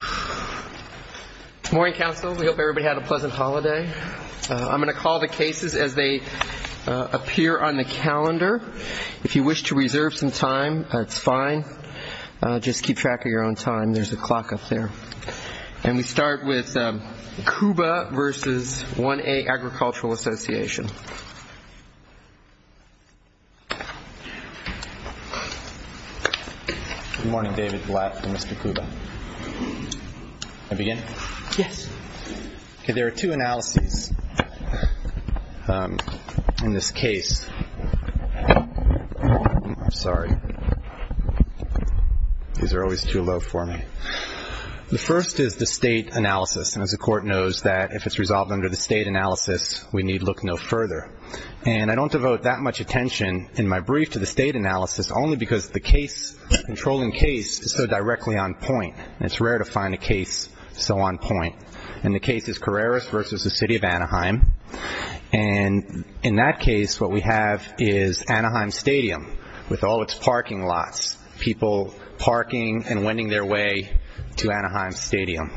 Good morning, counsel. We hope everybody had a pleasant holiday. I'm going to call the cases as they appear on the calendar. If you wish to reserve some time, that's fine. Just keep track of your own time. There's a clock up there. And we start with Kuba v. 1A Agricultural Association. Good morning, David Blatt and Mr. Kuba. Can I begin? Yes. Okay, there are two analyses in this case. I'm sorry. These are always too low for me. The first is the state analysis. And as the Court knows, that if it's resolved under the state analysis, we need look no further. And I don't devote that much attention in my brief to the state analysis, only because the case, controlling case, is so directly on point. It's rare to find a case so on point. And the case is Carreras v. The City of Anaheim. And in that case, what we have is Anaheim Stadium with all its parking lots, people parking and wending their way to Anaheim Stadium.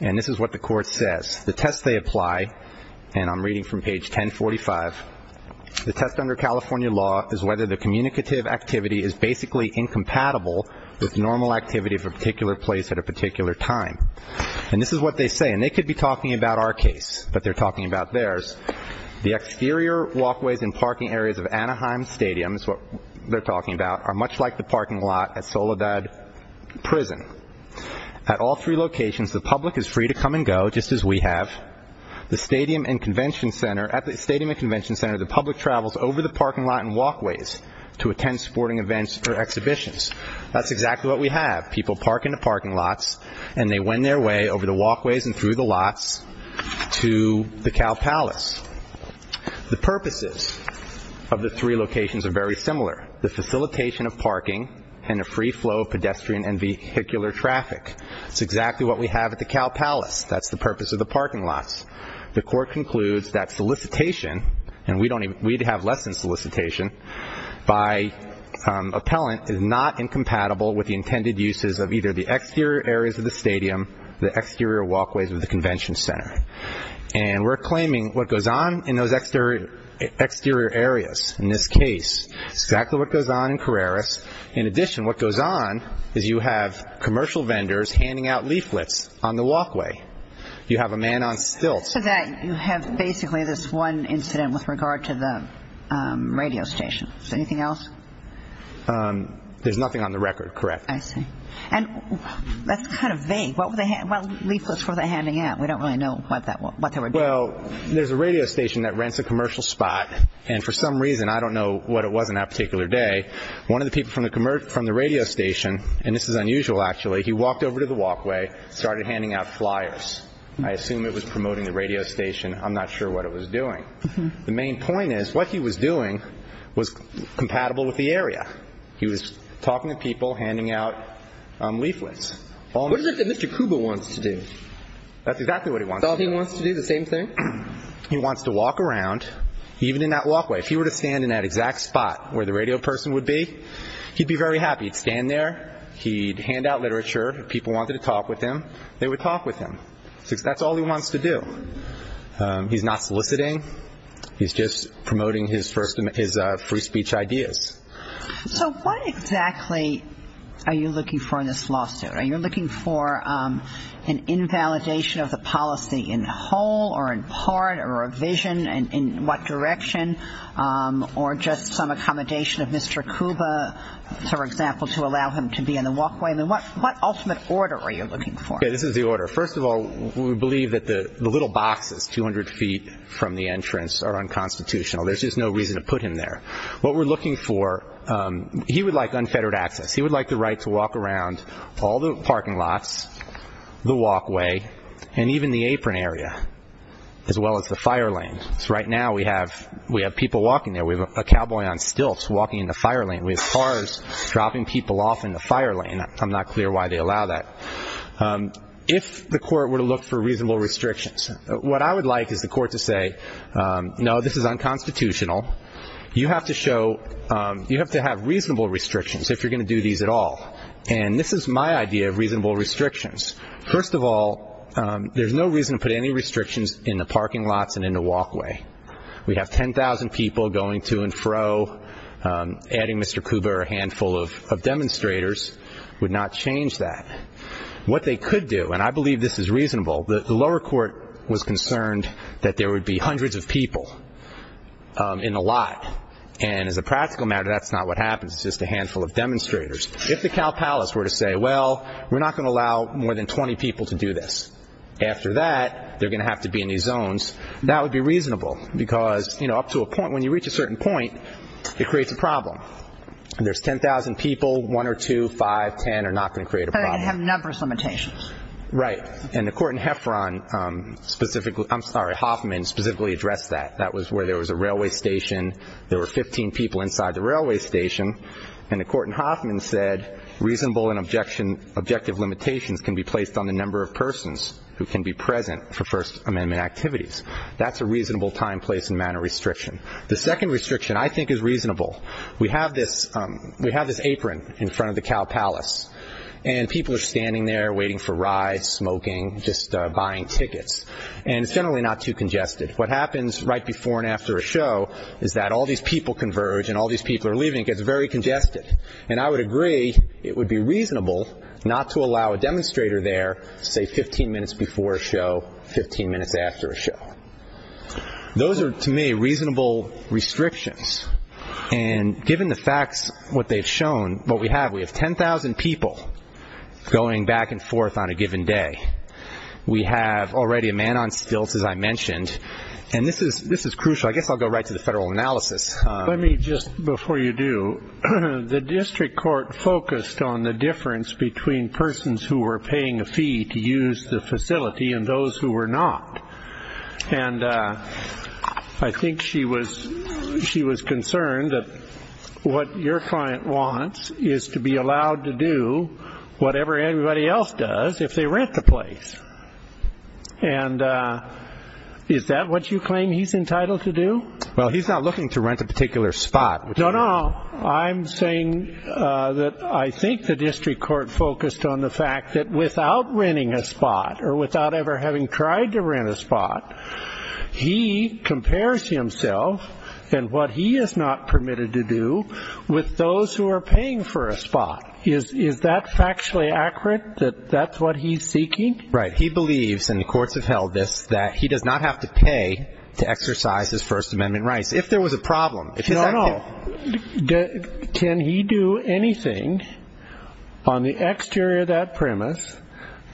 And this is what the Court says. The test they apply, and I'm reading from page 1045, the test under California law is whether the communicative activity is basically incompatible with normal activity of a particular place at a particular time. And this is what they say. And they could be talking about our case, but they're talking about theirs. The exterior walkways and parking areas of Anaheim Stadium, that's what they're talking about, are much like the parking lot at Soledad Prison. At all three locations, the public is free to come and go just as we have. At the Stadium and Convention Center, the public travels over the parking lot and walkways to attend sporting events or exhibitions. That's exactly what we have. People park in the parking lots, and they wend their way over the walkways and through the lots to the Cal Palace. The purposes of the three locations are very similar. The facilitation of parking and a free flow of pedestrian and vehicular traffic. That's exactly what we have at the Cal Palace. That's the purpose of the parking lots. The Court concludes that solicitation, and we'd have less than solicitation, by appellant is not incompatible with the intended uses of either the exterior areas of the Stadium, the exterior walkways of the Convention Center. And we're claiming what goes on in those exterior areas. In this case, it's exactly what goes on in Carreras. In addition, what goes on is you have commercial vendors handing out leaflets on the walkway. You have a man on stilts. You have basically this one incident with regard to the radio station. Is there anything else? There's nothing on the record, correct. I see. And that's kind of vague. What leaflets were they handing out? We don't really know what they were doing. Well, there's a radio station that rents a commercial spot, and for some reason, I don't know what it was on that particular day, one of the people from the radio station, and this is unusual actually, he walked over to the walkway, started handing out flyers. I assume it was promoting the radio station. I'm not sure what it was doing. The main point is what he was doing was compatible with the area. He was talking to people, handing out leaflets. What is it that Mr. Kuba wants to do? That's exactly what he wants to do. He wants to do the same thing? He wants to walk around, even in that walkway. If he were to stand in that exact spot where the radio person would be, he'd be very happy. He'd stand there, he'd hand out literature. If people wanted to talk with him, they would talk with him. That's all he wants to do. He's not soliciting. He's just promoting his free speech ideas. So what exactly are you looking for in this lawsuit? Are you looking for an invalidation of the policy in whole or in part or a revision in what direction or just some accommodation of Mr. Kuba, for example, to allow him to be in the walkway? What ultimate order are you looking for? This is the order. First of all, we believe that the little boxes 200 feet from the entrance are unconstitutional. There's just no reason to put him there. What we're looking for, he would like unfettered access. He would like the right to walk around all the parking lots, the walkway, and even the apron area, as well as the fire lane. So right now we have people walking there. We have a cowboy on stilts walking in the fire lane. We have cars dropping people off in the fire lane. I'm not clear why they allow that. If the court were to look for reasonable restrictions, what I would like is the court to say, no, this is unconstitutional. You have to have reasonable restrictions if you're going to do these at all. And this is my idea of reasonable restrictions. First of all, there's no reason to put any restrictions in the parking lots and in the walkway. We have 10,000 people going to and fro, adding Mr. Kuba or a handful of demonstrators would not change that. What they could do, and I believe this is reasonable, the lower court was concerned that there would be hundreds of people in the lot. And as a practical matter, that's not what happens. It's just a handful of demonstrators. If the Cal Palace were to say, well, we're not going to allow more than 20 people to do this. After that, they're going to have to be in these zones. That would be reasonable because, you know, up to a point, when you reach a certain point, it creates a problem. There's 10,000 people. One or two, five, ten are not going to create a problem. But they have numerous limitations. Right. And the court in Heffron specifically, I'm sorry, Hoffman specifically addressed that. That was where there was a railway station. There were 15 people inside the railway station. And the court in Hoffman said reasonable and objective limitations can be placed on the number of persons who can be present for First Amendment activities. That's a reasonable time, place, and manner restriction. The second restriction I think is reasonable. We have this apron in front of the Cal Palace. And people are standing there waiting for rides, smoking, just buying tickets. And it's generally not too congested. What happens right before and after a show is that all these people converge and all these people are leaving. It gets very congested. And I would agree it would be reasonable not to allow a demonstrator there, say, 15 minutes before a show, 15 minutes after a show. Those are, to me, reasonable restrictions. And given the facts, what they've shown, what we have, we have 10,000 people going back and forth on a given day. We have already a man on stilts, as I mentioned. And this is crucial. I guess I'll go right to the federal analysis. Let me just, before you do, the district court focused on the difference between persons who were paying a fee to use the facility and those who were not. And I think she was concerned that what your client wants is to be allowed to do whatever everybody else does if they rent the place. And is that what you claim he's entitled to do? Well, he's not looking to rent a particular spot. No, no. I'm saying that I think the district court focused on the fact that without renting a spot or without ever having tried to rent a spot, he compares himself and what he is not permitted to do with those who are paying for a spot. Is that factually accurate, that that's what he's seeking? Right. He believes, and the courts have held this, that he does not have to pay to exercise his First Amendment rights if there was a problem. No, no. Can he do anything on the exterior of that premise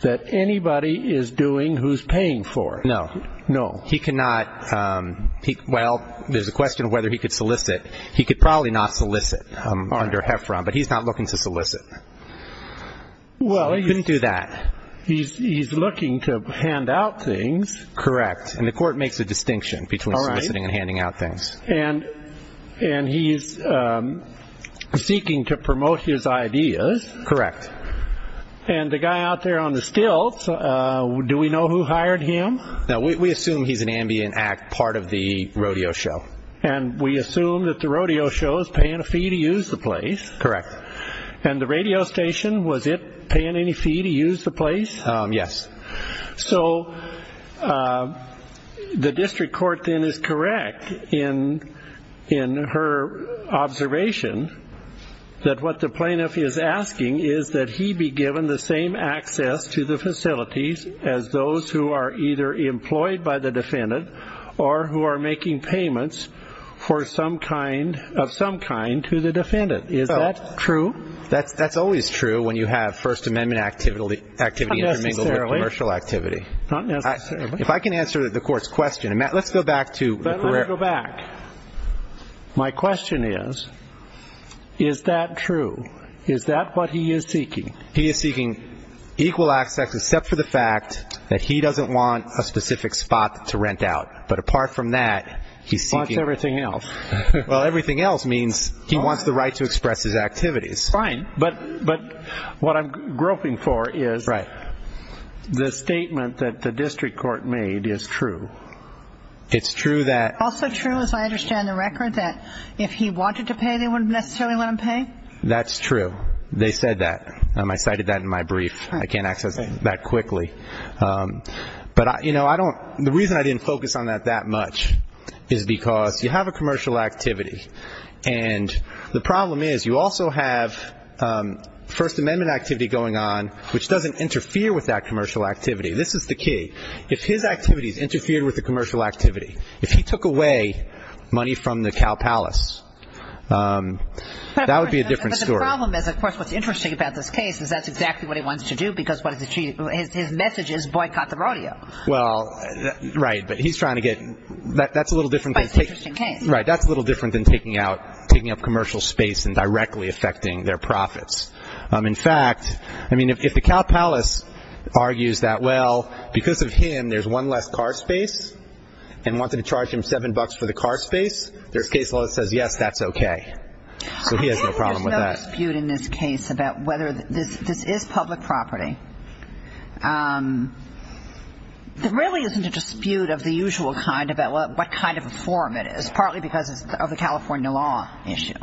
that anybody is doing who's paying for it? No, no. He cannot. Well, there's a question of whether he could solicit. He could probably not solicit under Heffron, but he's not looking to solicit. He couldn't do that. He's looking to hand out things. Correct. And the court makes a distinction between soliciting and handing out things. Yes. And he's seeking to promote his ideas. Correct. And the guy out there on the stilts, do we know who hired him? We assume he's an ambient act, part of the rodeo show. And we assume that the rodeo show is paying a fee to use the place. Correct. And the radio station, was it paying any fee to use the place? Yes. So the district court then is correct in her observation that what the plaintiff is asking is that he be given the same access to the facilities as those who are either employed by the defendant or who are making payments of some kind to the defendant. Is that true? That's always true when you have First Amendment activity intermingled with commercial activity. Not necessarily. If I can answer the court's question. Let's go back to the career. Let me go back. My question is, is that true? Is that what he is seeking? He is seeking equal access except for the fact that he doesn't want a specific spot to rent out. But apart from that, he's seeking. What's everything else? Well, everything else means he wants the right to express his activities. Fine. But what I'm groping for is the statement that the district court made is true. It's true that. Also true, as I understand the record, that if he wanted to pay, they wouldn't necessarily let him pay? That's true. They said that. I cited that in my brief. I can't access that quickly. But, you know, I don't the reason I didn't focus on that that much is because you have a commercial activity. And the problem is you also have First Amendment activity going on, which doesn't interfere with that commercial activity. This is the key. If his activities interfered with the commercial activity, if he took away money from the Cal Palace, that would be a different story. The problem is, of course, what's interesting about this case is that's exactly what he wants to do because his message is boycott the rodeo. Well, right, but he's trying to get – that's a little different. But it's an interesting case. Right. That's a little different than taking out – taking up commercial space and directly affecting their profits. In fact, I mean, if the Cal Palace argues that, well, because of him there's one less car space and wanted to charge him seven bucks for the car space, there's a case law that says, yes, that's okay. So he has no problem with that. I think there's no dispute in this case about whether this is public property. There really isn't a dispute of the usual kind about what kind of a form it is, partly because of the California law issue.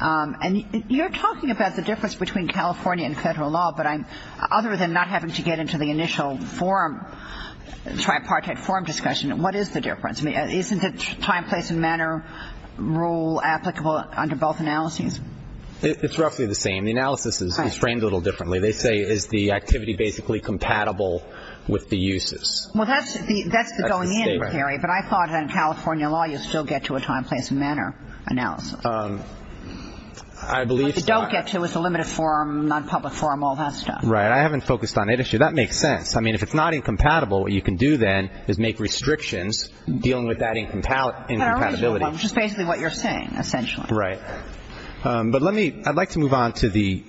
And you're talking about the difference between California and federal law, but other than not having to get into the initial form, tripartite form discussion, what is the difference? Excuse me. Isn't a time, place, and manner rule applicable under both analyses? It's roughly the same. The analysis is framed a little differently. They say, is the activity basically compatible with the uses? Well, that's the going in theory, but I thought in California law you still get to a time, place, and manner analysis. I believe – What you don't get to is the limited form, non-public form, all that stuff. Right. I haven't focused on that issue. That makes sense. I mean, if it's not incompatible, what you can do then is make restrictions dealing with that incompatibility. Which is basically what you're saying, essentially. Right. But let me – I'd like to move on to the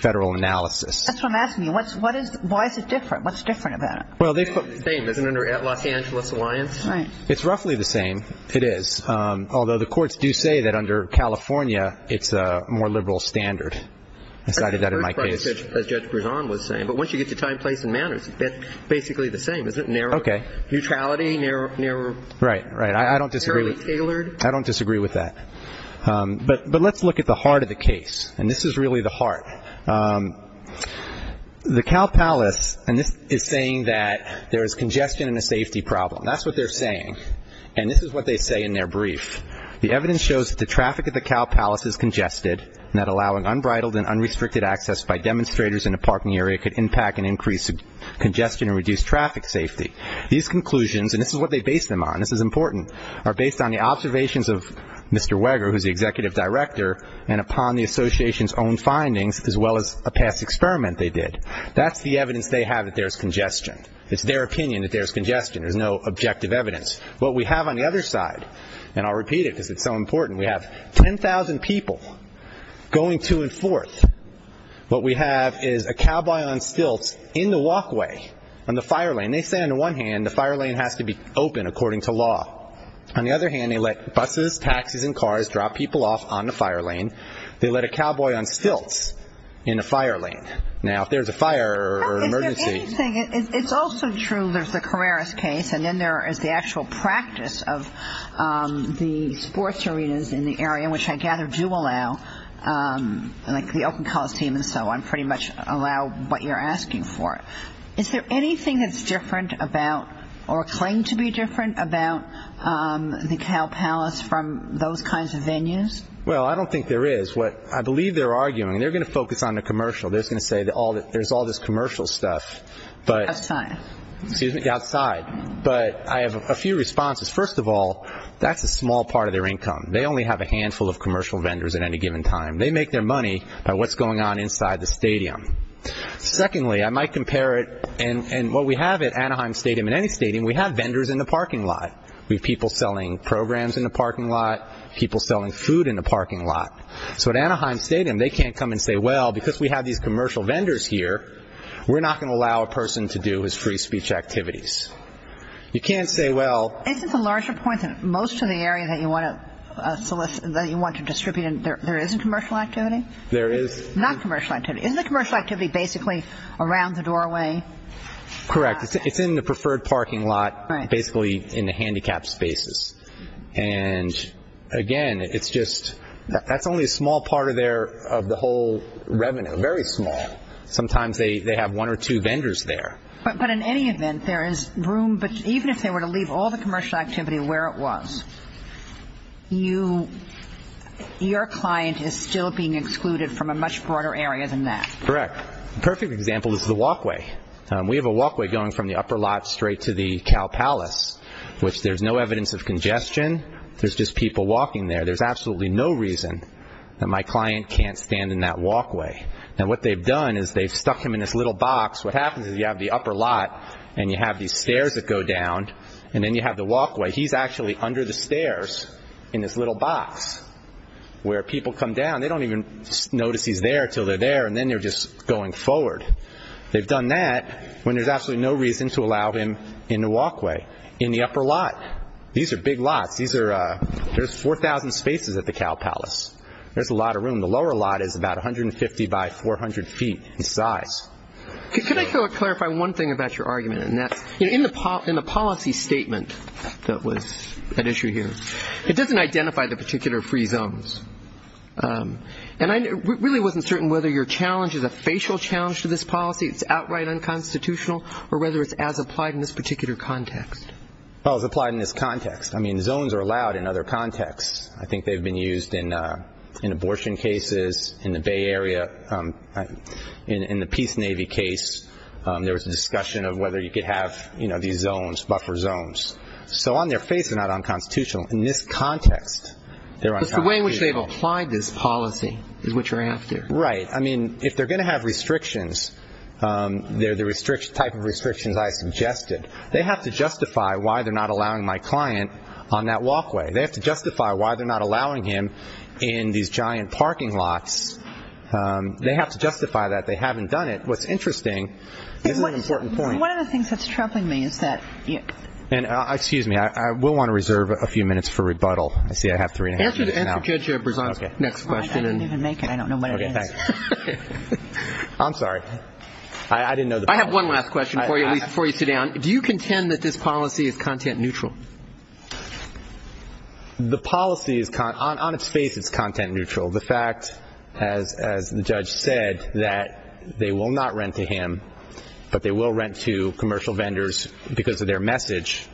federal analysis. That's what I'm asking you. Why is it different? What's different about it? Well, they put – It's the same, isn't it, under Los Angeles Alliance? Right. It's roughly the same. It is. Although the courts do say that under California it's a more liberal standard. I cited that in my case. As Judge Grison was saying. But once you get to time, place, and manners, it's basically the same, isn't it? Narrow neutrality, narrow – Right. Right. I don't disagree with that. I don't disagree with that. But let's look at the heart of the case. And this is really the heart. The Cal Palace – and this is saying that there is congestion and a safety problem. That's what they're saying. And this is what they say in their brief. The evidence shows that the traffic at the Cal Palace is congested and that allowing unbridled and unrestricted access by demonstrators in a parking area could impact and increase congestion and reduce traffic safety. These conclusions – and this is what they base them on. This is important. Are based on the observations of Mr. Weger, who's the executive director, and upon the association's own findings as well as a past experiment they did. That's the evidence they have that there's congestion. It's their opinion that there's congestion. There's no objective evidence. What we have on the other side – and I'll repeat it because it's so important. We have 10,000 people going to and forth. What we have is a cowboy on stilts in the walkway on the fire lane. They say, on the one hand, the fire lane has to be open according to law. On the other hand, they let buses, taxis, and cars drop people off on the fire lane. They let a cowboy on stilts in a fire lane. Now, if there's a fire or an emergency – If there's anything – it's also true there's the Carreras case and then there is the actual practice of the sports arenas in the area, which I gather do allow, like the Oakland College team and so on, pretty much allow what you're asking for. Is there anything that's different about or claimed to be different about the Cow Palace from those kinds of venues? Well, I don't think there is. I believe they're arguing – they're going to focus on the commercial. They're just going to say there's all this commercial stuff. Outside. But I have a few responses. First of all, that's a small part of their income. They only have a handful of commercial vendors at any given time. They make their money by what's going on inside the stadium. Secondly, I might compare it – and what we have at Anaheim Stadium and any stadium, we have vendors in the parking lot. We have people selling programs in the parking lot, people selling food in the parking lot. So at Anaheim Stadium, they can't come and say, well, because we have these commercial vendors here, we're not going to allow a person to do his free speech activities. You can't say, well – Isn't the larger point that most of the area that you want to distribute, there isn't commercial activity? There is. Not commercial activity. Isn't the commercial activity basically around the doorway? Correct. It's in the preferred parking lot, basically in the handicapped spaces. And, again, it's just – that's only a small part of their – of the whole revenue. Very small. Sometimes they have one or two vendors there. But in any event, there is room – but even if they were to leave all the commercial activity where it was, you – your client is still being excluded from a much broader area than that. Correct. A perfect example is the walkway. We have a walkway going from the upper lot straight to the Cal Palace, which there's no evidence of congestion. There's just people walking there. There's absolutely no reason that my client can't stand in that walkway. And what they've done is they've stuck him in this little box. What happens is you have the upper lot and you have these stairs that go down, and then you have the walkway. He's actually under the stairs in this little box where people come down. They don't even notice he's there until they're there, and then they're just going forward. They've done that when there's absolutely no reason to allow him in the walkway, in the upper lot. These are big lots. These are – there's 4,000 spaces at the Cal Palace. There's a lot of room. The lower lot is about 150 by 400 feet in size. Could I clarify one thing about your argument? In the policy statement that was at issue here, it doesn't identify the particular free zones. And I really wasn't certain whether your challenge is a facial challenge to this policy, it's outright unconstitutional, or whether it's as applied in this particular context. Well, it's applied in this context. I mean, zones are allowed in other contexts. I think they've been used in abortion cases, in the Bay Area, in the Peace Navy case. There was a discussion of whether you could have, you know, these zones, buffer zones. So on their face they're not unconstitutional. In this context they're unconstitutional. Because the way in which they've applied this policy is what you're after. Right. I mean, if they're going to have restrictions, the type of restrictions I suggested, they have to justify why they're not allowing my client on that walkway. They have to justify why they're not allowing him in these giant parking lots. They have to justify that. They haven't done it. What's interesting, this is an important point. One of the things that's troubling me is that you – Excuse me. I will want to reserve a few minutes for rebuttal. I see I have three and a half minutes now. Answer Judge Berzon's next question. I didn't even make it. I don't know what it is. Okay. Thanks. I'm sorry. I didn't know the policy. I have one last question for you before you sit down. Do you contend that this policy is content neutral? The policy is – on its face, it's content neutral. The fact, as the judge said, that they will not rent to him, but they will rent to commercial vendors because of their message,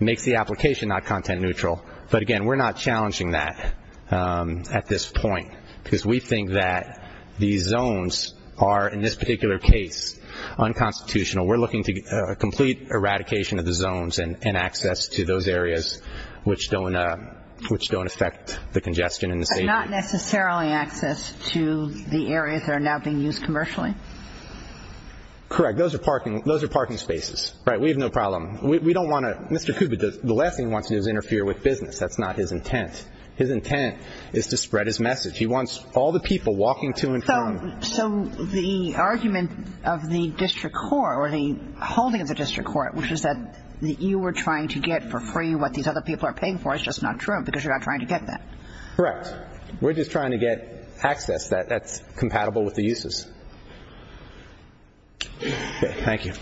makes the application not content neutral. But, again, we're not challenging that at this point, because we think that these zones are, in this particular case, unconstitutional. We're looking to complete eradication of the zones and access to those areas which don't affect the congestion and the safety. But not necessarily access to the areas that are now being used commercially? Correct. Those are parking spaces. Right. We have no problem. We don't want to – Mr. Kubit, the last thing he wants to do is interfere with business. That's not his intent. His intent is to spread his message. He wants all the people walking to and from – So the argument of the district court or the holding of the district court, which is that you were trying to get for free what these other people are paying for, is just not true because you're not trying to get that. Correct. We're just trying to get access that's compatible with the uses. Okay. Thank you.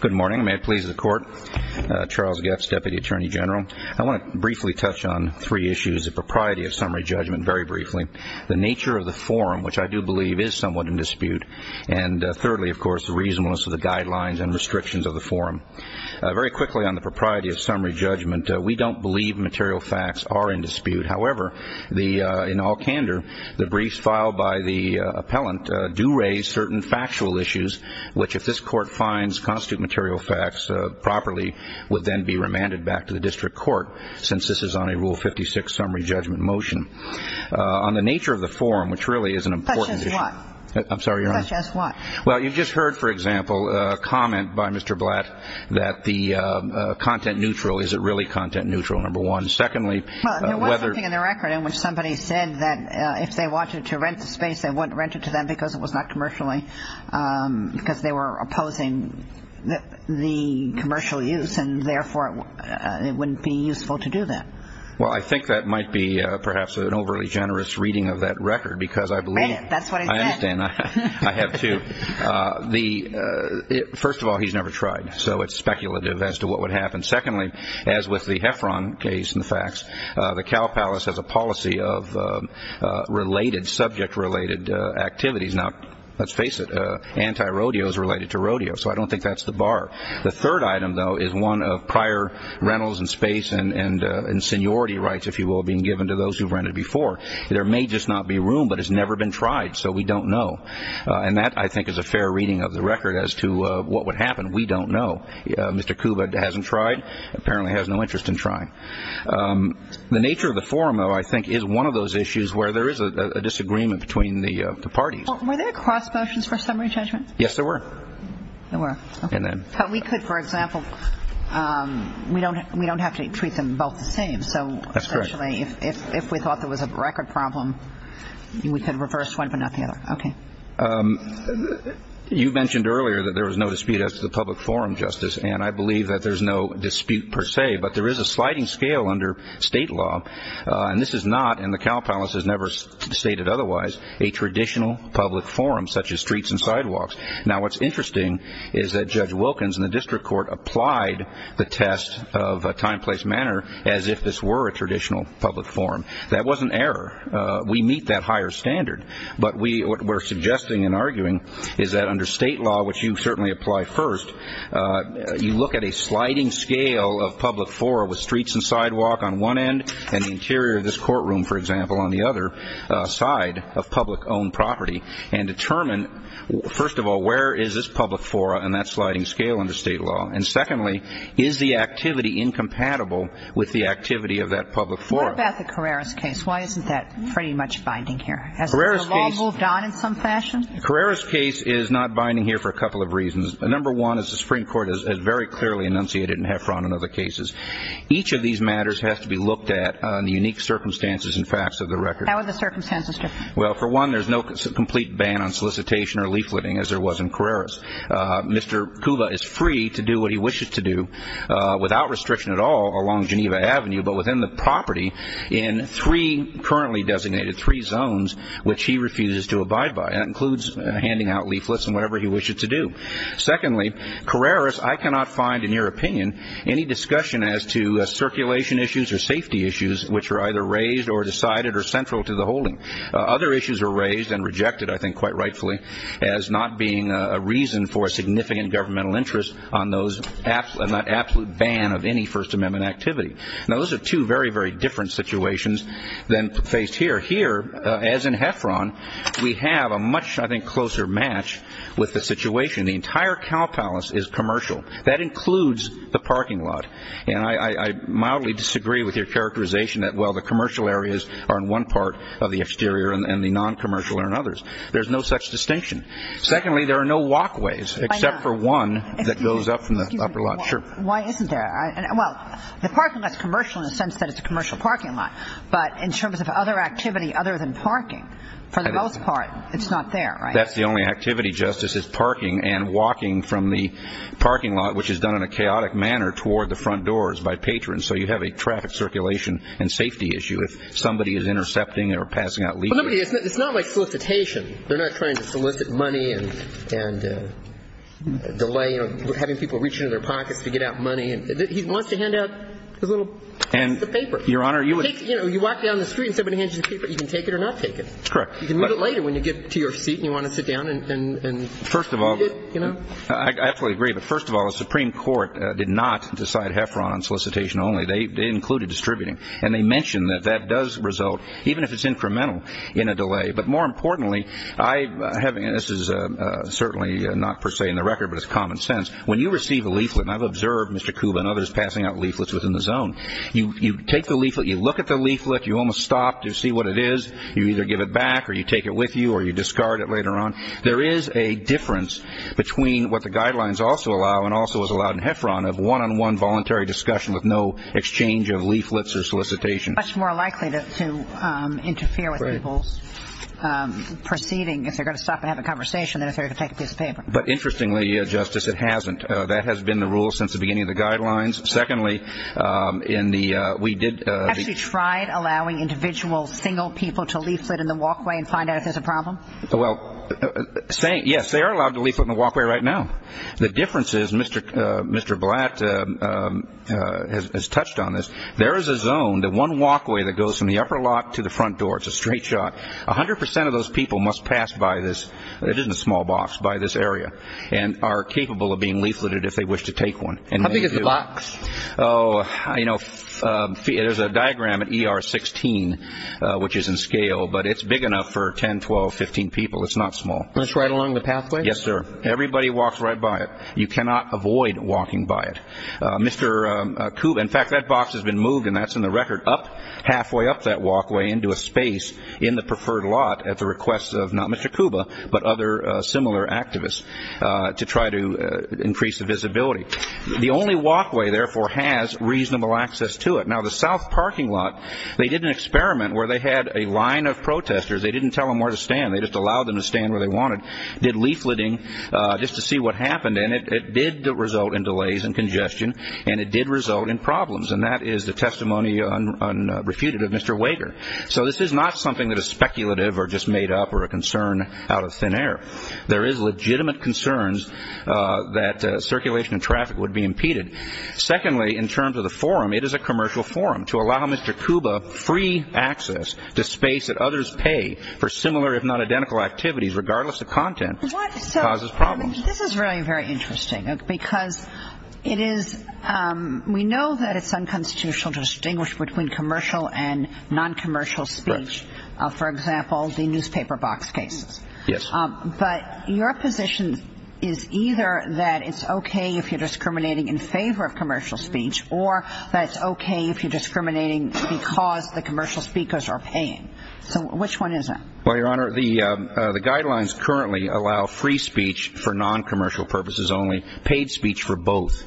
Good morning. May it please the Court. Charles Goetz, Deputy Attorney General. I want to briefly touch on three issues, the propriety of summary judgment very briefly, the nature of the forum, which I do believe is somewhat in dispute, and thirdly, of course, the reasonableness of the guidelines and restrictions of the forum. Very quickly on the propriety of summary judgment, we don't believe material facts are in dispute. However, in all candor, the briefs filed by the appellant do raise certain factual issues which, if this Court finds constitute material facts properly, would then be remanded back to the district court since this is on a Rule 56 summary judgment motion. On the nature of the forum, which really is an important issue. Such as what? I'm sorry, Your Honor. Such as what? Well, you just heard, for example, a comment by Mr. Blatt that the content neutral, is it really content neutral, number one. Secondly, whether – Well, there was something in the record in which somebody said that if they wanted to rent the space, they wouldn't rent it to them because it was not commercially – because they were opposing the commercial use and therefore it wouldn't be useful to do that. Well, I think that might be perhaps an overly generous reading of that record because I believe – Read it. That's what he said. I understand. I have too. First of all, he's never tried, so it's speculative as to what would happen. Secondly, as with the Heffron case and the facts, the Cal Palace has a policy of related, subject-related activities. Now, let's face it, anti-rodeo is related to rodeo, so I don't think that's the bar. The third item, though, is one of prior rentals and space and seniority rights, if you will, being given to those who've rented before. There may just not be room, but it's never been tried, so we don't know. And that, I think, is a fair reading of the record as to what would happen. We don't know. Mr. Kuba hasn't tried, apparently has no interest in trying. The nature of the forum, though, I think, is one of those issues where there is a disagreement between the parties. Were there cross motions for summary judgment? Yes, there were. There were. And then – We could, for example – we don't have to treat them both the same. That's correct. So, essentially, if we thought there was a record problem, we could reverse one but not the other. Okay. You mentioned earlier that there was no dispute as to the public forum, Justice, and I believe that there's no dispute per se, but there is a sliding scale under state law, and this is not, and the Cow Palace has never stated otherwise, a traditional public forum such as streets and sidewalks. Now, what's interesting is that Judge Wilkins and the district court applied the test of a time-place manner as if this were a traditional public forum. That was an error. We meet that higher standard. But what we're suggesting and arguing is that under state law, which you certainly apply first, you look at a sliding scale of public fora with streets and sidewalk on one end and the interior of this courtroom, for example, on the other side of public-owned property and determine, first of all, where is this public fora and that sliding scale under state law? And secondly, is the activity incompatible with the activity of that public fora? What about the Carreras case? Why isn't that pretty much binding here? Has the law moved on in some fashion? The Carreras case is not binding here for a couple of reasons. Number one is the Supreme Court has very clearly enunciated in Heffron and other cases. Each of these matters has to be looked at on the unique circumstances and facts of the record. How are the circumstances different? Well, for one, there's no complete ban on solicitation or leafleting as there was in Carreras. Mr. Kuba is free to do what he wishes to do without restriction at all along Geneva Avenue, but within the property in three currently designated three zones which he refuses to abide by. That includes handing out leaflets and whatever he wishes to do. Secondly, Carreras, I cannot find in your opinion any discussion as to circulation issues or safety issues which are either raised or decided or central to the holding. Other issues are raised and rejected, I think quite rightfully, as not being a reason for a significant governmental interest on that absolute ban of any First Amendment activity. Now, those are two very, very different situations than faced here. Here, as in Heffron, we have a much, I think, closer match with the situation. The entire Cow Palace is commercial. That includes the parking lot, and I mildly disagree with your characterization that, well, the commercial areas are in one part of the exterior and the noncommercial are in others. There's no such distinction. Secondly, there are no walkways except for one that goes up from the upper lot. Well, why isn't there? Well, the parking lot is commercial in the sense that it's a commercial parking lot, but in terms of other activity other than parking, for the most part, it's not there, right? That's the only activity, Justice, is parking and walking from the parking lot, which is done in a chaotic manner, toward the front doors by patrons. So you have a traffic circulation and safety issue if somebody is intercepting or passing out leaflets. Well, nobody is. It's not like solicitation. They're not trying to solicit money and delay having people reach into their pockets to get out money. He wants to hand out his little piece of paper. Your Honor, you would. You walk down the street and somebody hands you the paper. You can take it or not take it. Correct. You can move it later when you get to your seat and you want to sit down and get it. First of all, I absolutely agree, but first of all, the Supreme Court did not decide Heffron on solicitation only. They included distributing, and they mentioned that that does result, even if it's incremental, in a delay. But more importantly, this is certainly not per se in the record, but it's common sense. When you receive a leaflet, and I've observed Mr. Kuba and others passing out leaflets within the zone, you take the leaflet, you look at the leaflet, you almost stop to see what it is, you either give it back or you take it with you or you discard it later on. There is a difference between what the guidelines also allow and also was allowed in Heffron of one-on-one voluntary discussion with no exchange of leaflets or solicitation. Much more likely to interfere with people's proceeding if they're going to stop and have a conversation than if they're going to take a piece of paper. But interestingly, Justice, it hasn't. That has been the rule since the beginning of the guidelines. Secondly, in the – we did – Have you tried allowing individual single people to leaflet in the walkway and find out if there's a problem? Well, yes, they are allowed to leaflet in the walkway right now. The difference is Mr. Blatt has touched on this. There is a zone, the one walkway that goes from the upper lot to the front door. It's a straight shot. A hundred percent of those people must pass by this – it isn't a small box – by this area and are capable of being leafleted if they wish to take one. How big is the box? Oh, you know, there's a diagram at ER 16 which is in scale, but it's big enough for 10, 12, 15 people. It's not small. It's right along the pathway? Yes, sir. Everybody walks right by it. You cannot avoid walking by it. Mr. Kuba – in fact, that box has been moved, and that's in the record, up – halfway up that walkway into a space in the preferred lot at the request of not Mr. Kuba, but other similar activists to try to increase the visibility. The only walkway, therefore, has reasonable access to it. Now, the south parking lot, they did an experiment where they had a line of protesters. They didn't tell them where to stand. They just allowed them to stand where they wanted. They did leafleting just to see what happened, and it did result in delays and congestion, and it did result in problems, and that is the testimony refuted of Mr. Wager. So this is not something that is speculative or just made up or a concern out of thin air. There is legitimate concerns that circulation and traffic would be impeded. Secondly, in terms of the forum, it is a commercial forum. To allow Mr. Kuba free access to space that others pay for similar, if not identical, activities regardless of content causes problems. This is really very interesting because it is – we know that it's unconstitutional to distinguish between commercial and noncommercial speech. For example, the newspaper box cases. Yes. But your position is either that it's okay if you're discriminating in favor of commercial speech or that it's okay if you're discriminating because the commercial speakers are paying. So which one is it? Well, Your Honor, the guidelines currently allow free speech for noncommercial purposes only, paid speech for both.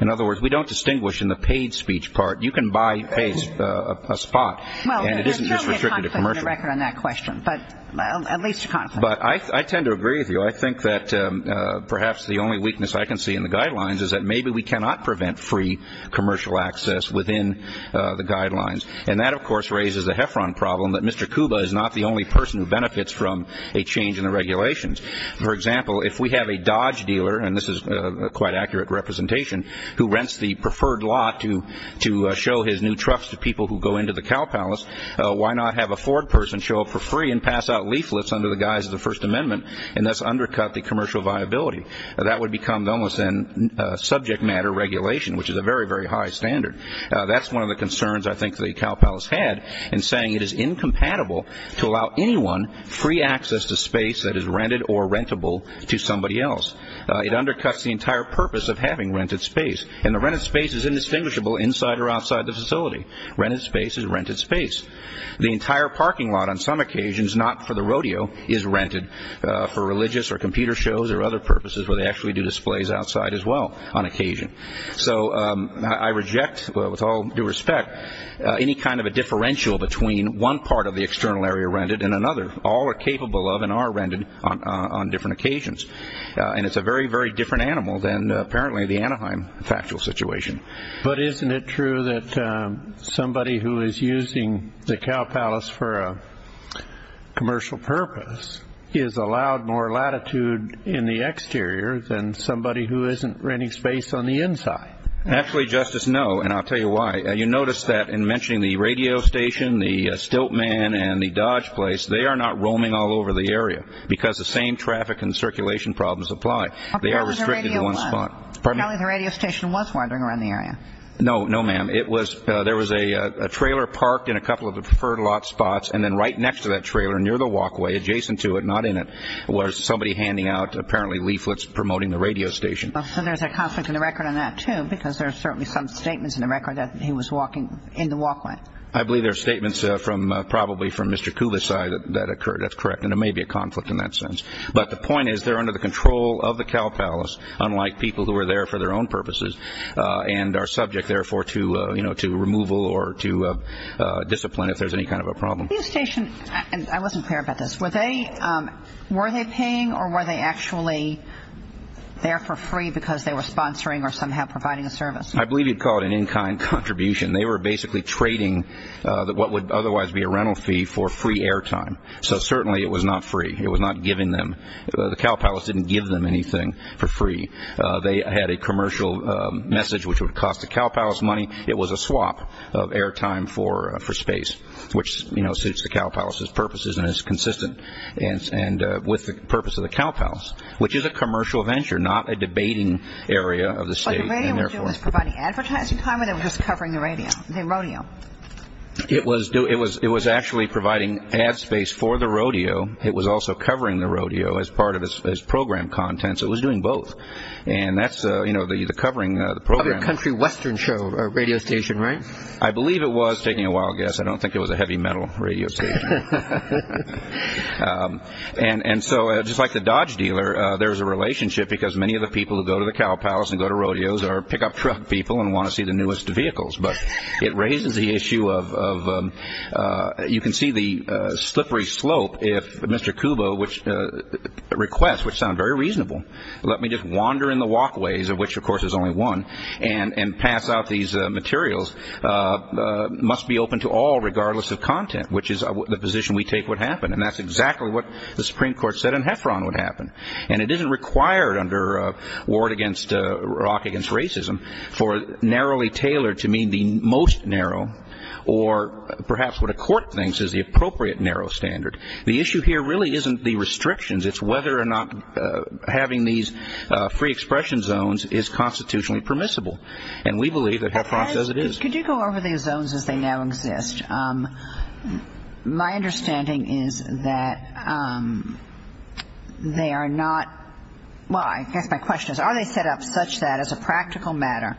In other words, we don't distinguish in the paid speech part. You can buy a spot, and it isn't just restricted to commercial. Well, there's no good conflict on the record on that question, but at least a conflict. But I tend to agree with you. I think that perhaps the only weakness I can see in the guidelines is that maybe we cannot prevent free commercial access within the guidelines, and that, of course, raises a heffron problem, that Mr. Cuba is not the only person who benefits from a change in the regulations. For example, if we have a Dodge dealer, and this is a quite accurate representation, who rents the preferred lot to show his new trucks to people who go into the Cow Palace, why not have a Ford person show up for free and pass out leaflets under the guise of the First Amendment and thus undercut the commercial viability? That would become almost then subject matter regulation, which is a very, very high standard. That's one of the concerns I think the Cow Palace had in saying it is incompatible to allow anyone free access to space that is rented or rentable to somebody else. It undercuts the entire purpose of having rented space, and the rented space is indistinguishable inside or outside the facility. Rented space is rented space. The entire parking lot on some occasions, not for the rodeo, is rented for religious or computer shows or other purposes where they actually do displays outside as well on occasion. So I reject, with all due respect, any kind of a differential between one part of the external area rented and another. All are capable of and are rented on different occasions. And it's a very, very different animal than apparently the Anaheim factual situation. But isn't it true that somebody who is using the Cow Palace for a commercial purpose is allowed more latitude in the exterior than somebody who isn't renting space on the inside? Actually, Justice, no, and I'll tell you why. You notice that in mentioning the radio station, the Stiltman, and the Dodge Place, they are not roaming all over the area because the same traffic and circulation problems apply. They are restricted to one spot. Apparently the radio station was wandering around the area. No, no, ma'am. There was a trailer parked in a couple of the preferred lot spots, and then right next to that trailer near the walkway adjacent to it, not in it, was somebody handing out apparently leaflets promoting the radio station. So there's a conflict in the record on that, too, because there are certainly some statements in the record that he was walking in the walkway. I believe there are statements probably from Mr. Kubis' side that occurred. That's correct, and there may be a conflict in that sense. But the point is they're under the control of the Cow Palace, unlike people who are there for their own purposes and are subject, therefore, to removal or to discipline if there's any kind of a problem. The station, and I wasn't clear about this, were they paying or were they actually there for free because they were sponsoring or somehow providing a service? I believe you'd call it an in-kind contribution. They were basically trading what would otherwise be a rental fee for free air time. So certainly it was not free. It was not giving them. The Cow Palace didn't give them anything for free. They had a commercial message which would cost the Cow Palace money. It was a swap of air time for space, which suits the Cow Palace's purposes and is consistent with the purpose of the Cow Palace, which is a commercial venture, not a debating area of the state. The radio was providing advertising time or they were just covering the radio, the rodeo? It was actually providing ad space for the rodeo. It was also covering the rodeo as part of its program contents. It was doing both, and that's the covering the program. A country western show radio station, right? I believe it was, taking a wild guess. I don't think it was a heavy metal radio station. And so just like the Dodge dealer, there's a relationship because many of the people who go to the Cow Palace and go to rodeos are pickup truck people and want to see the newest vehicles. But it raises the issue of you can see the slippery slope if Mr. Kubo requests, which sounds very reasonable. Let me just wander in the walkways, of which, of course, there's only one, and pass out these materials must be open to all regardless of content, which is the position we take would happen. And that's exactly what the Supreme Court said in Heffron would happen. And it isn't required under Ward against Rock against Racism for narrowly tailored to mean the most narrow or perhaps what a court thinks is the appropriate narrow standard. The issue here really isn't the restrictions. It's whether or not having these free expression zones is constitutionally permissible. And we believe that Heffron says it is. Could you go over these zones as they now exist? My understanding is that they are not, well, I guess my question is, are they set up such that as a practical matter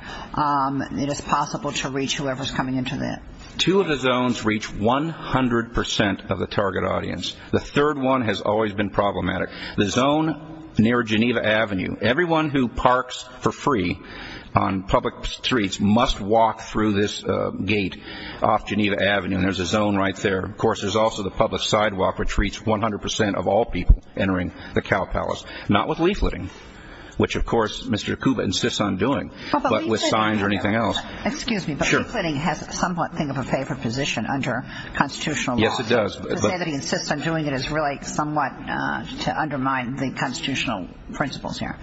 it is possible to reach whoever is coming into them? Two of the zones reach 100% of the target audience. The third one has always been problematic. The zone near Geneva Avenue. Everyone who parks for free on public streets must walk through this gate off Geneva Avenue. And there's a zone right there. Of course, there's also the public sidewalk which reaches 100% of all people entering the Cow Palace. Not with leafleting, which, of course, Mr. Akuba insists on doing, but with signs or anything else. Excuse me, but leafleting has somewhat of a favor position under constitutional law. Yes, it does. He insists on doing it as really somewhat to undermine the constitutional principles here.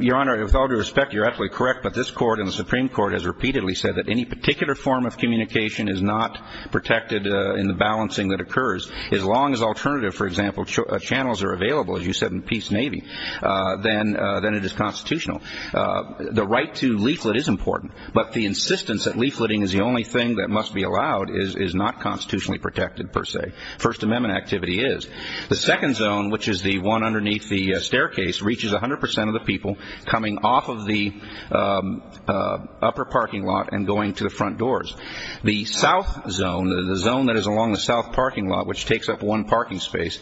Your Honor, with all due respect, you're absolutely correct, but this Court and the Supreme Court has repeatedly said that any particular form of communication is not protected in the balancing that occurs. As long as alternative, for example, channels are available, as you said, in Peace Navy, then it is constitutional. The right to leaflet is important, but the insistence that leafleting is the only thing that must be allowed is not constitutionally protected per se. First Amendment activity is. The second zone, which is the one underneath the staircase, reaches 100% of the people coming off of the upper parking lot and going to the front doors. The south zone, the zone that is along the south parking lot, which takes up one parking space,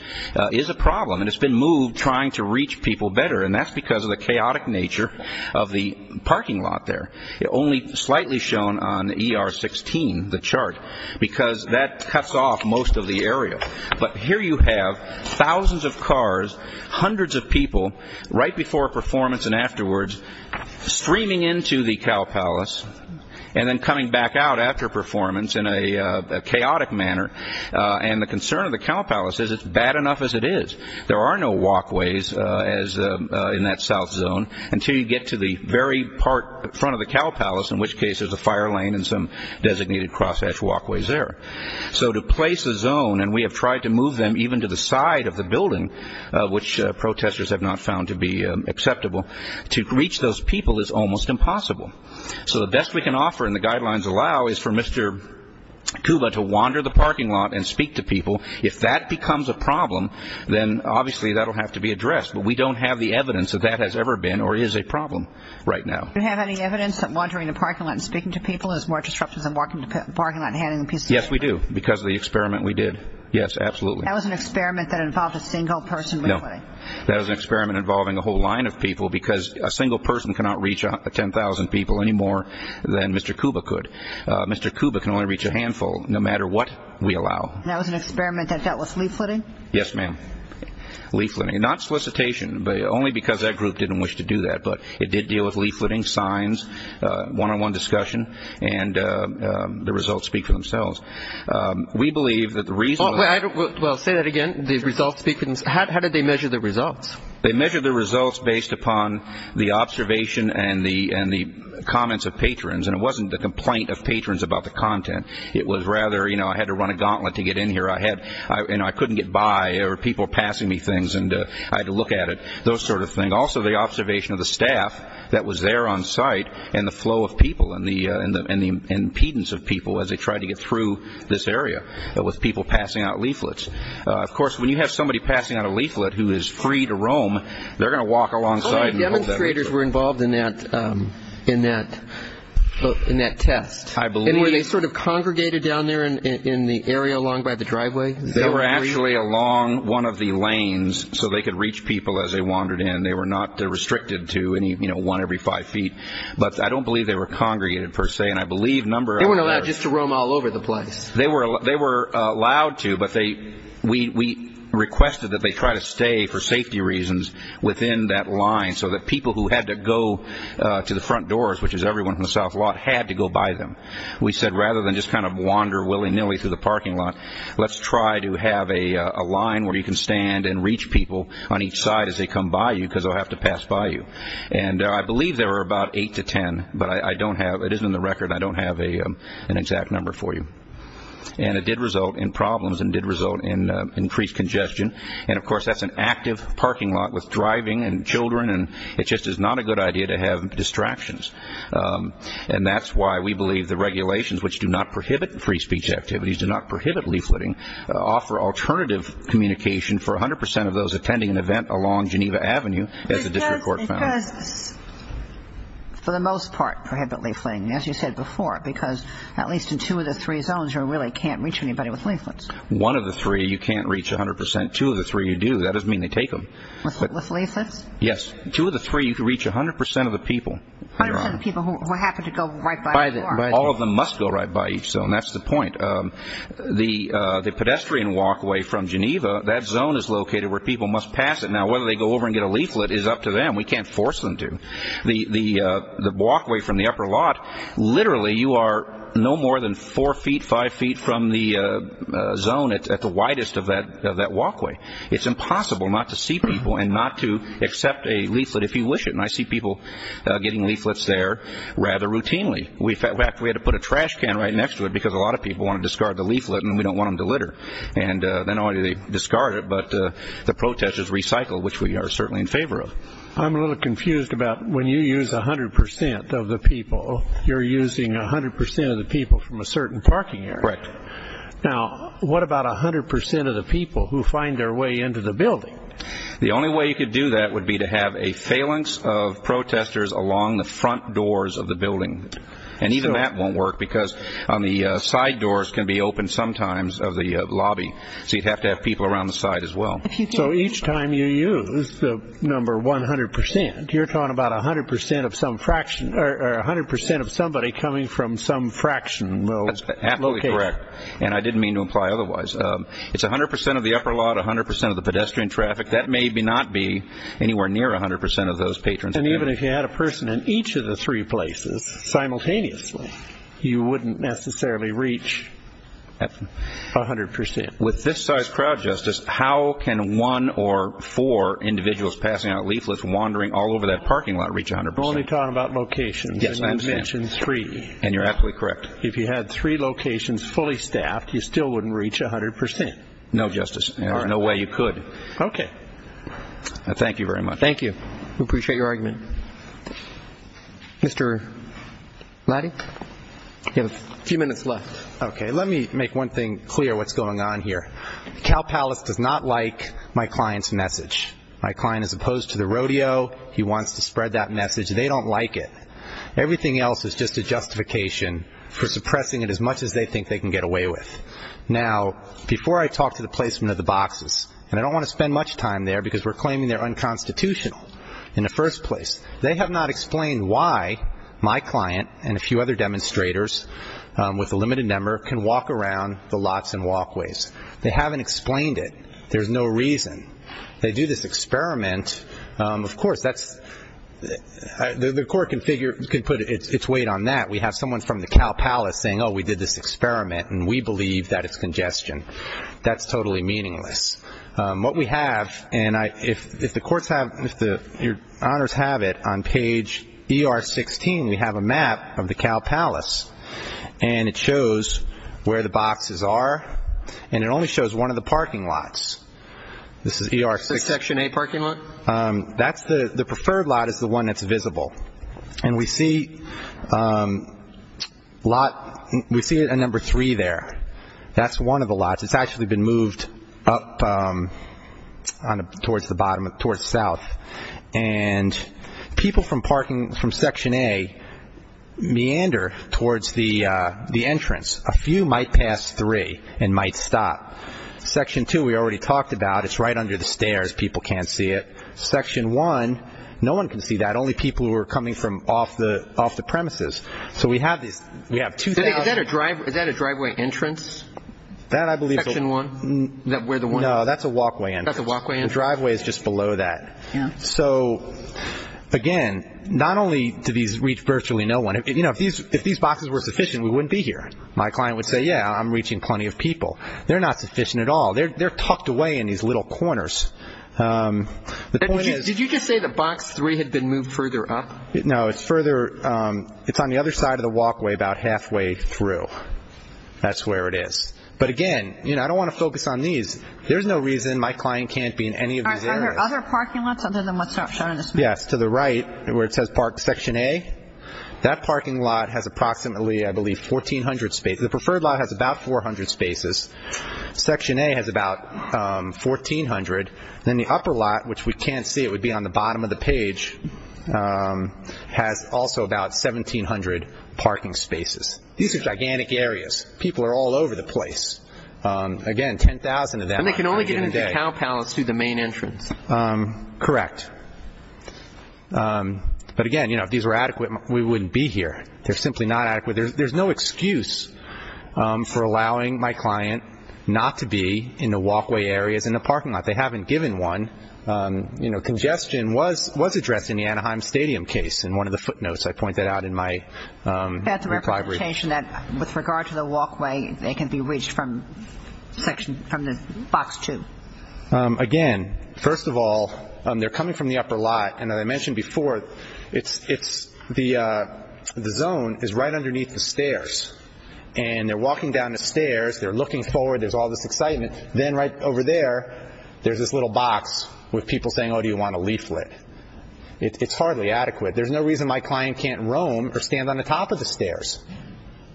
is a problem, and it's been moved trying to reach people better, and that's because of the chaotic nature of the parking lot there. It's only slightly shown on ER 16, the chart, because that cuts off most of the area. But here you have thousands of cars, hundreds of people, right before a performance and afterwards streaming into the Cow Palace and then coming back out after a performance in a chaotic manner, and the concern of the Cow Palace is it's bad enough as it is. There are no walkways in that south zone until you get to the very front of the Cow Palace, in which case there's a fire lane and some designated cross-edge walkways there. So to place a zone, and we have tried to move them even to the side of the building, which protesters have not found to be acceptable, to reach those people is almost impossible. So the best we can offer and the guidelines allow is for Mr. Cuba to wander the parking lot and speak to people. If that becomes a problem, then obviously that will have to be addressed, but we don't have the evidence that that has ever been or is a problem right now. Do you have any evidence that wandering the parking lot and speaking to people is more disruptive than walking the parking lot and handing them pieces of paper? Yes, we do, because of the experiment we did. Yes, absolutely. That was an experiment that involved a single person? No, that was an experiment involving a whole line of people because a single person cannot reach 10,000 people any more than Mr. Cuba could. Mr. Cuba can only reach a handful, no matter what we allow. And that was an experiment that dealt with leafleting? Yes, ma'am. Leafleting. Not solicitation, only because that group didn't wish to do that, but it did deal with leafleting, signs, one-on-one discussion, and the results speak for themselves. We believe that the reason— Well, say that again. The results speak for themselves. How did they measure the results? They measured the results based upon the observation and the comments of patrons, and it wasn't the complaint of patrons about the content. It was rather, you know, I had to run a gauntlet to get in here. I couldn't get by. There were people passing me things, and I had to look at it, those sort of things. Also, the observation of the staff that was there on site, and the flow of people and the impedance of people as they tried to get through this area, with people passing out leaflets. Of course, when you have somebody passing out a leaflet who is free to roam, they're going to walk alongside and hold that leaflet. How many demonstrators were involved in that test? I believe— And were they sort of congregated down there in the area along by the driveway? They were actually along one of the lanes so they could reach people as they wandered in. They were not restricted to any, you know, one every five feet. But I don't believe they were congregated per se, and I believe a number of— They weren't allowed just to roam all over the place. They were allowed to, but we requested that they try to stay for safety reasons within that line so that people who had to go to the front doors, which is everyone from the south lot, had to go by them. We said rather than just kind of wander willy-nilly through the parking lot, let's try to have a line where you can stand and reach people on each side as they come by you because they'll have to pass by you. And I believe there were about eight to ten, but I don't have— It isn't in the record. I don't have an exact number for you. And it did result in problems and did result in increased congestion. And, of course, that's an active parking lot with driving and children, and it just is not a good idea to have distractions. And that's why we believe the regulations, which do not prohibit free speech activities, do not prohibit leafleting, offer alternative communication for 100 percent of those attending an event along Geneva Avenue, as the district court found. Because for the most part prohibit leafleting, as you said before, because at least in two of the three zones you really can't reach anybody with leaflets. One of the three you can't reach 100 percent. Two of the three you do. That doesn't mean they take them. With leaflets? Yes. Two of the three you can reach 100 percent of the people. 100 percent of the people who happen to go right by the door. All of them must go right by each zone. That's the point. The pedestrian walkway from Geneva, that zone is located where people must pass it. Now, whether they go over and get a leaflet is up to them. We can't force them to. The walkway from the upper lot, literally you are no more than four feet, five feet from the zone at the widest of that walkway. It's impossible not to see people and not to accept a leaflet if you wish it. And I see people getting leaflets there rather routinely. In fact, we had to put a trash can right next to it because a lot of people want to discard the leaflet and we don't want them to litter. And then not only do they discard it, but the protest is recycled, which we are certainly in favor of. I'm a little confused about when you use 100 percent of the people, you're using 100 percent of the people from a certain parking area. Correct. Now, what about 100 percent of the people who find their way into the building? The only way you could do that would be to have a phalanx of protesters along the front doors of the building. And even that won't work because the side doors can be open sometimes of the lobby. So you'd have to have people around the side as well. So each time you use the number 100 percent, you're talking about 100 percent of somebody coming from some fraction. That's absolutely correct, and I didn't mean to imply otherwise. It's 100 percent of the upper lot, 100 percent of the pedestrian traffic. That may not be anywhere near 100 percent of those patrons. And even if you had a person in each of the three places simultaneously, you wouldn't necessarily reach 100 percent. With this size crowd, Justice, how can one or four individuals passing out leaflets wandering all over that parking lot reach 100 percent? We're only talking about locations. Yes, I understand. And you mentioned three. And you're absolutely correct. If you had three locations fully staffed, you still wouldn't reach 100 percent. No, Justice. There's no way you could. Okay. Thank you very much. Thank you. We appreciate your argument. Mr. Latty, you have a few minutes left. Okay. Let me make one thing clear what's going on here. Cal Palace does not like my client's message. My client is opposed to the rodeo. He wants to spread that message. They don't like it. Everything else is just a justification for suppressing it as much as they think they can get away with. Now, before I talk to the placement of the boxes, and I don't want to spend much time there because we're claiming they're unconstitutional in the first place. They have not explained why my client and a few other demonstrators with a limited number can walk around the lots and walkways. They haven't explained it. There's no reason. They do this experiment. Of course, the court can put its weight on that. We have someone from the Cal Palace saying, oh, we did this experiment, and we believe that it's congestion. That's totally meaningless. What we have, and if the courts have it, if the honors have it, on page ER-16, we have a map of the Cal Palace, and it shows where the boxes are, and it only shows one of the parking lots. This is ER-16. Is this section A parking lot? That's the preferred lot is the one that's visible. And we see a lot, we see a number three there. That's one of the lots. It's actually been moved up towards the bottom, towards south. And people from section A meander towards the entrance. A few might pass three and might stop. Section two we already talked about. It's right under the stairs. People can't see it. Section one, no one can see that, only people who are coming from off the premises. So we have two thousand. Is that a driveway entrance? That I believe is a walkway entrance. The driveway is just below that. So, again, not only do these reach virtually no one, if these boxes were sufficient we wouldn't be here. My client would say, yeah, I'm reaching plenty of people. They're not sufficient at all. They're tucked away in these little corners. Did you just say that box three had been moved further up? No, it's further, it's on the other side of the walkway about halfway through. That's where it is. But, again, I don't want to focus on these. There's no reason my client can't be in any of these areas. Are there other parking lots other than what's shown on the screen? Yes, to the right where it says section A. That parking lot has approximately, I believe, 1,400 spaces. The preferred lot has about 400 spaces. Section A has about 1,400. Then the upper lot, which we can't see, it would be on the bottom of the page, has also about 1,700 parking spaces. These are gigantic areas. People are all over the place. Again, 10,000 of them. And they can only get into the town palace through the main entrance. Correct. But, again, you know, if these were adequate we wouldn't be here. They're simply not adequate. There's no excuse for allowing my client not to be in the walkway areas in the parking lot. They haven't given one. You know, congestion was addressed in the Anaheim Stadium case in one of the footnotes I pointed out in my That's a representation that with regard to the walkway they can be reached from the box two. Again, first of all, they're coming from the upper lot. And as I mentioned before, the zone is right underneath the stairs. And they're walking down the stairs, they're looking forward, there's all this excitement. Then right over there there's this little box with people saying, oh, do you want a leaflet? It's hardly adequate. There's no reason my client can't roam or stand on the top of the stairs.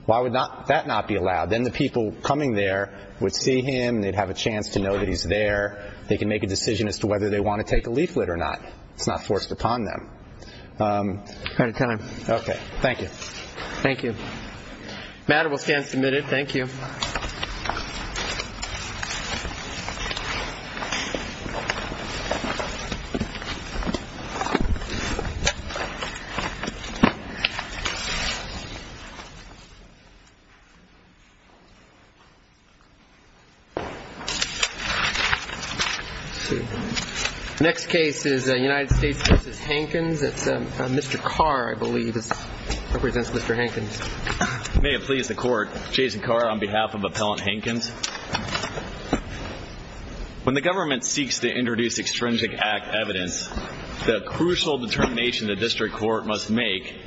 Why would that not be allowed? Then the people coming there would see him. They'd have a chance to know that he's there. They can make a decision as to whether they want to take a leaflet or not. It's not forced upon them. We're out of time. Okay. Thank you. Thank you. Matter will stand submitted. Thank you. Thank you. Next case is United States v. Hankins. It's Mr. Carr, I believe, represents Mr. Hankins. May it please the Court. Jason Carr on behalf of Appellant Hankins. When the government seeks to introduce extrinsic act evidence, the crucial determination the district court must make is that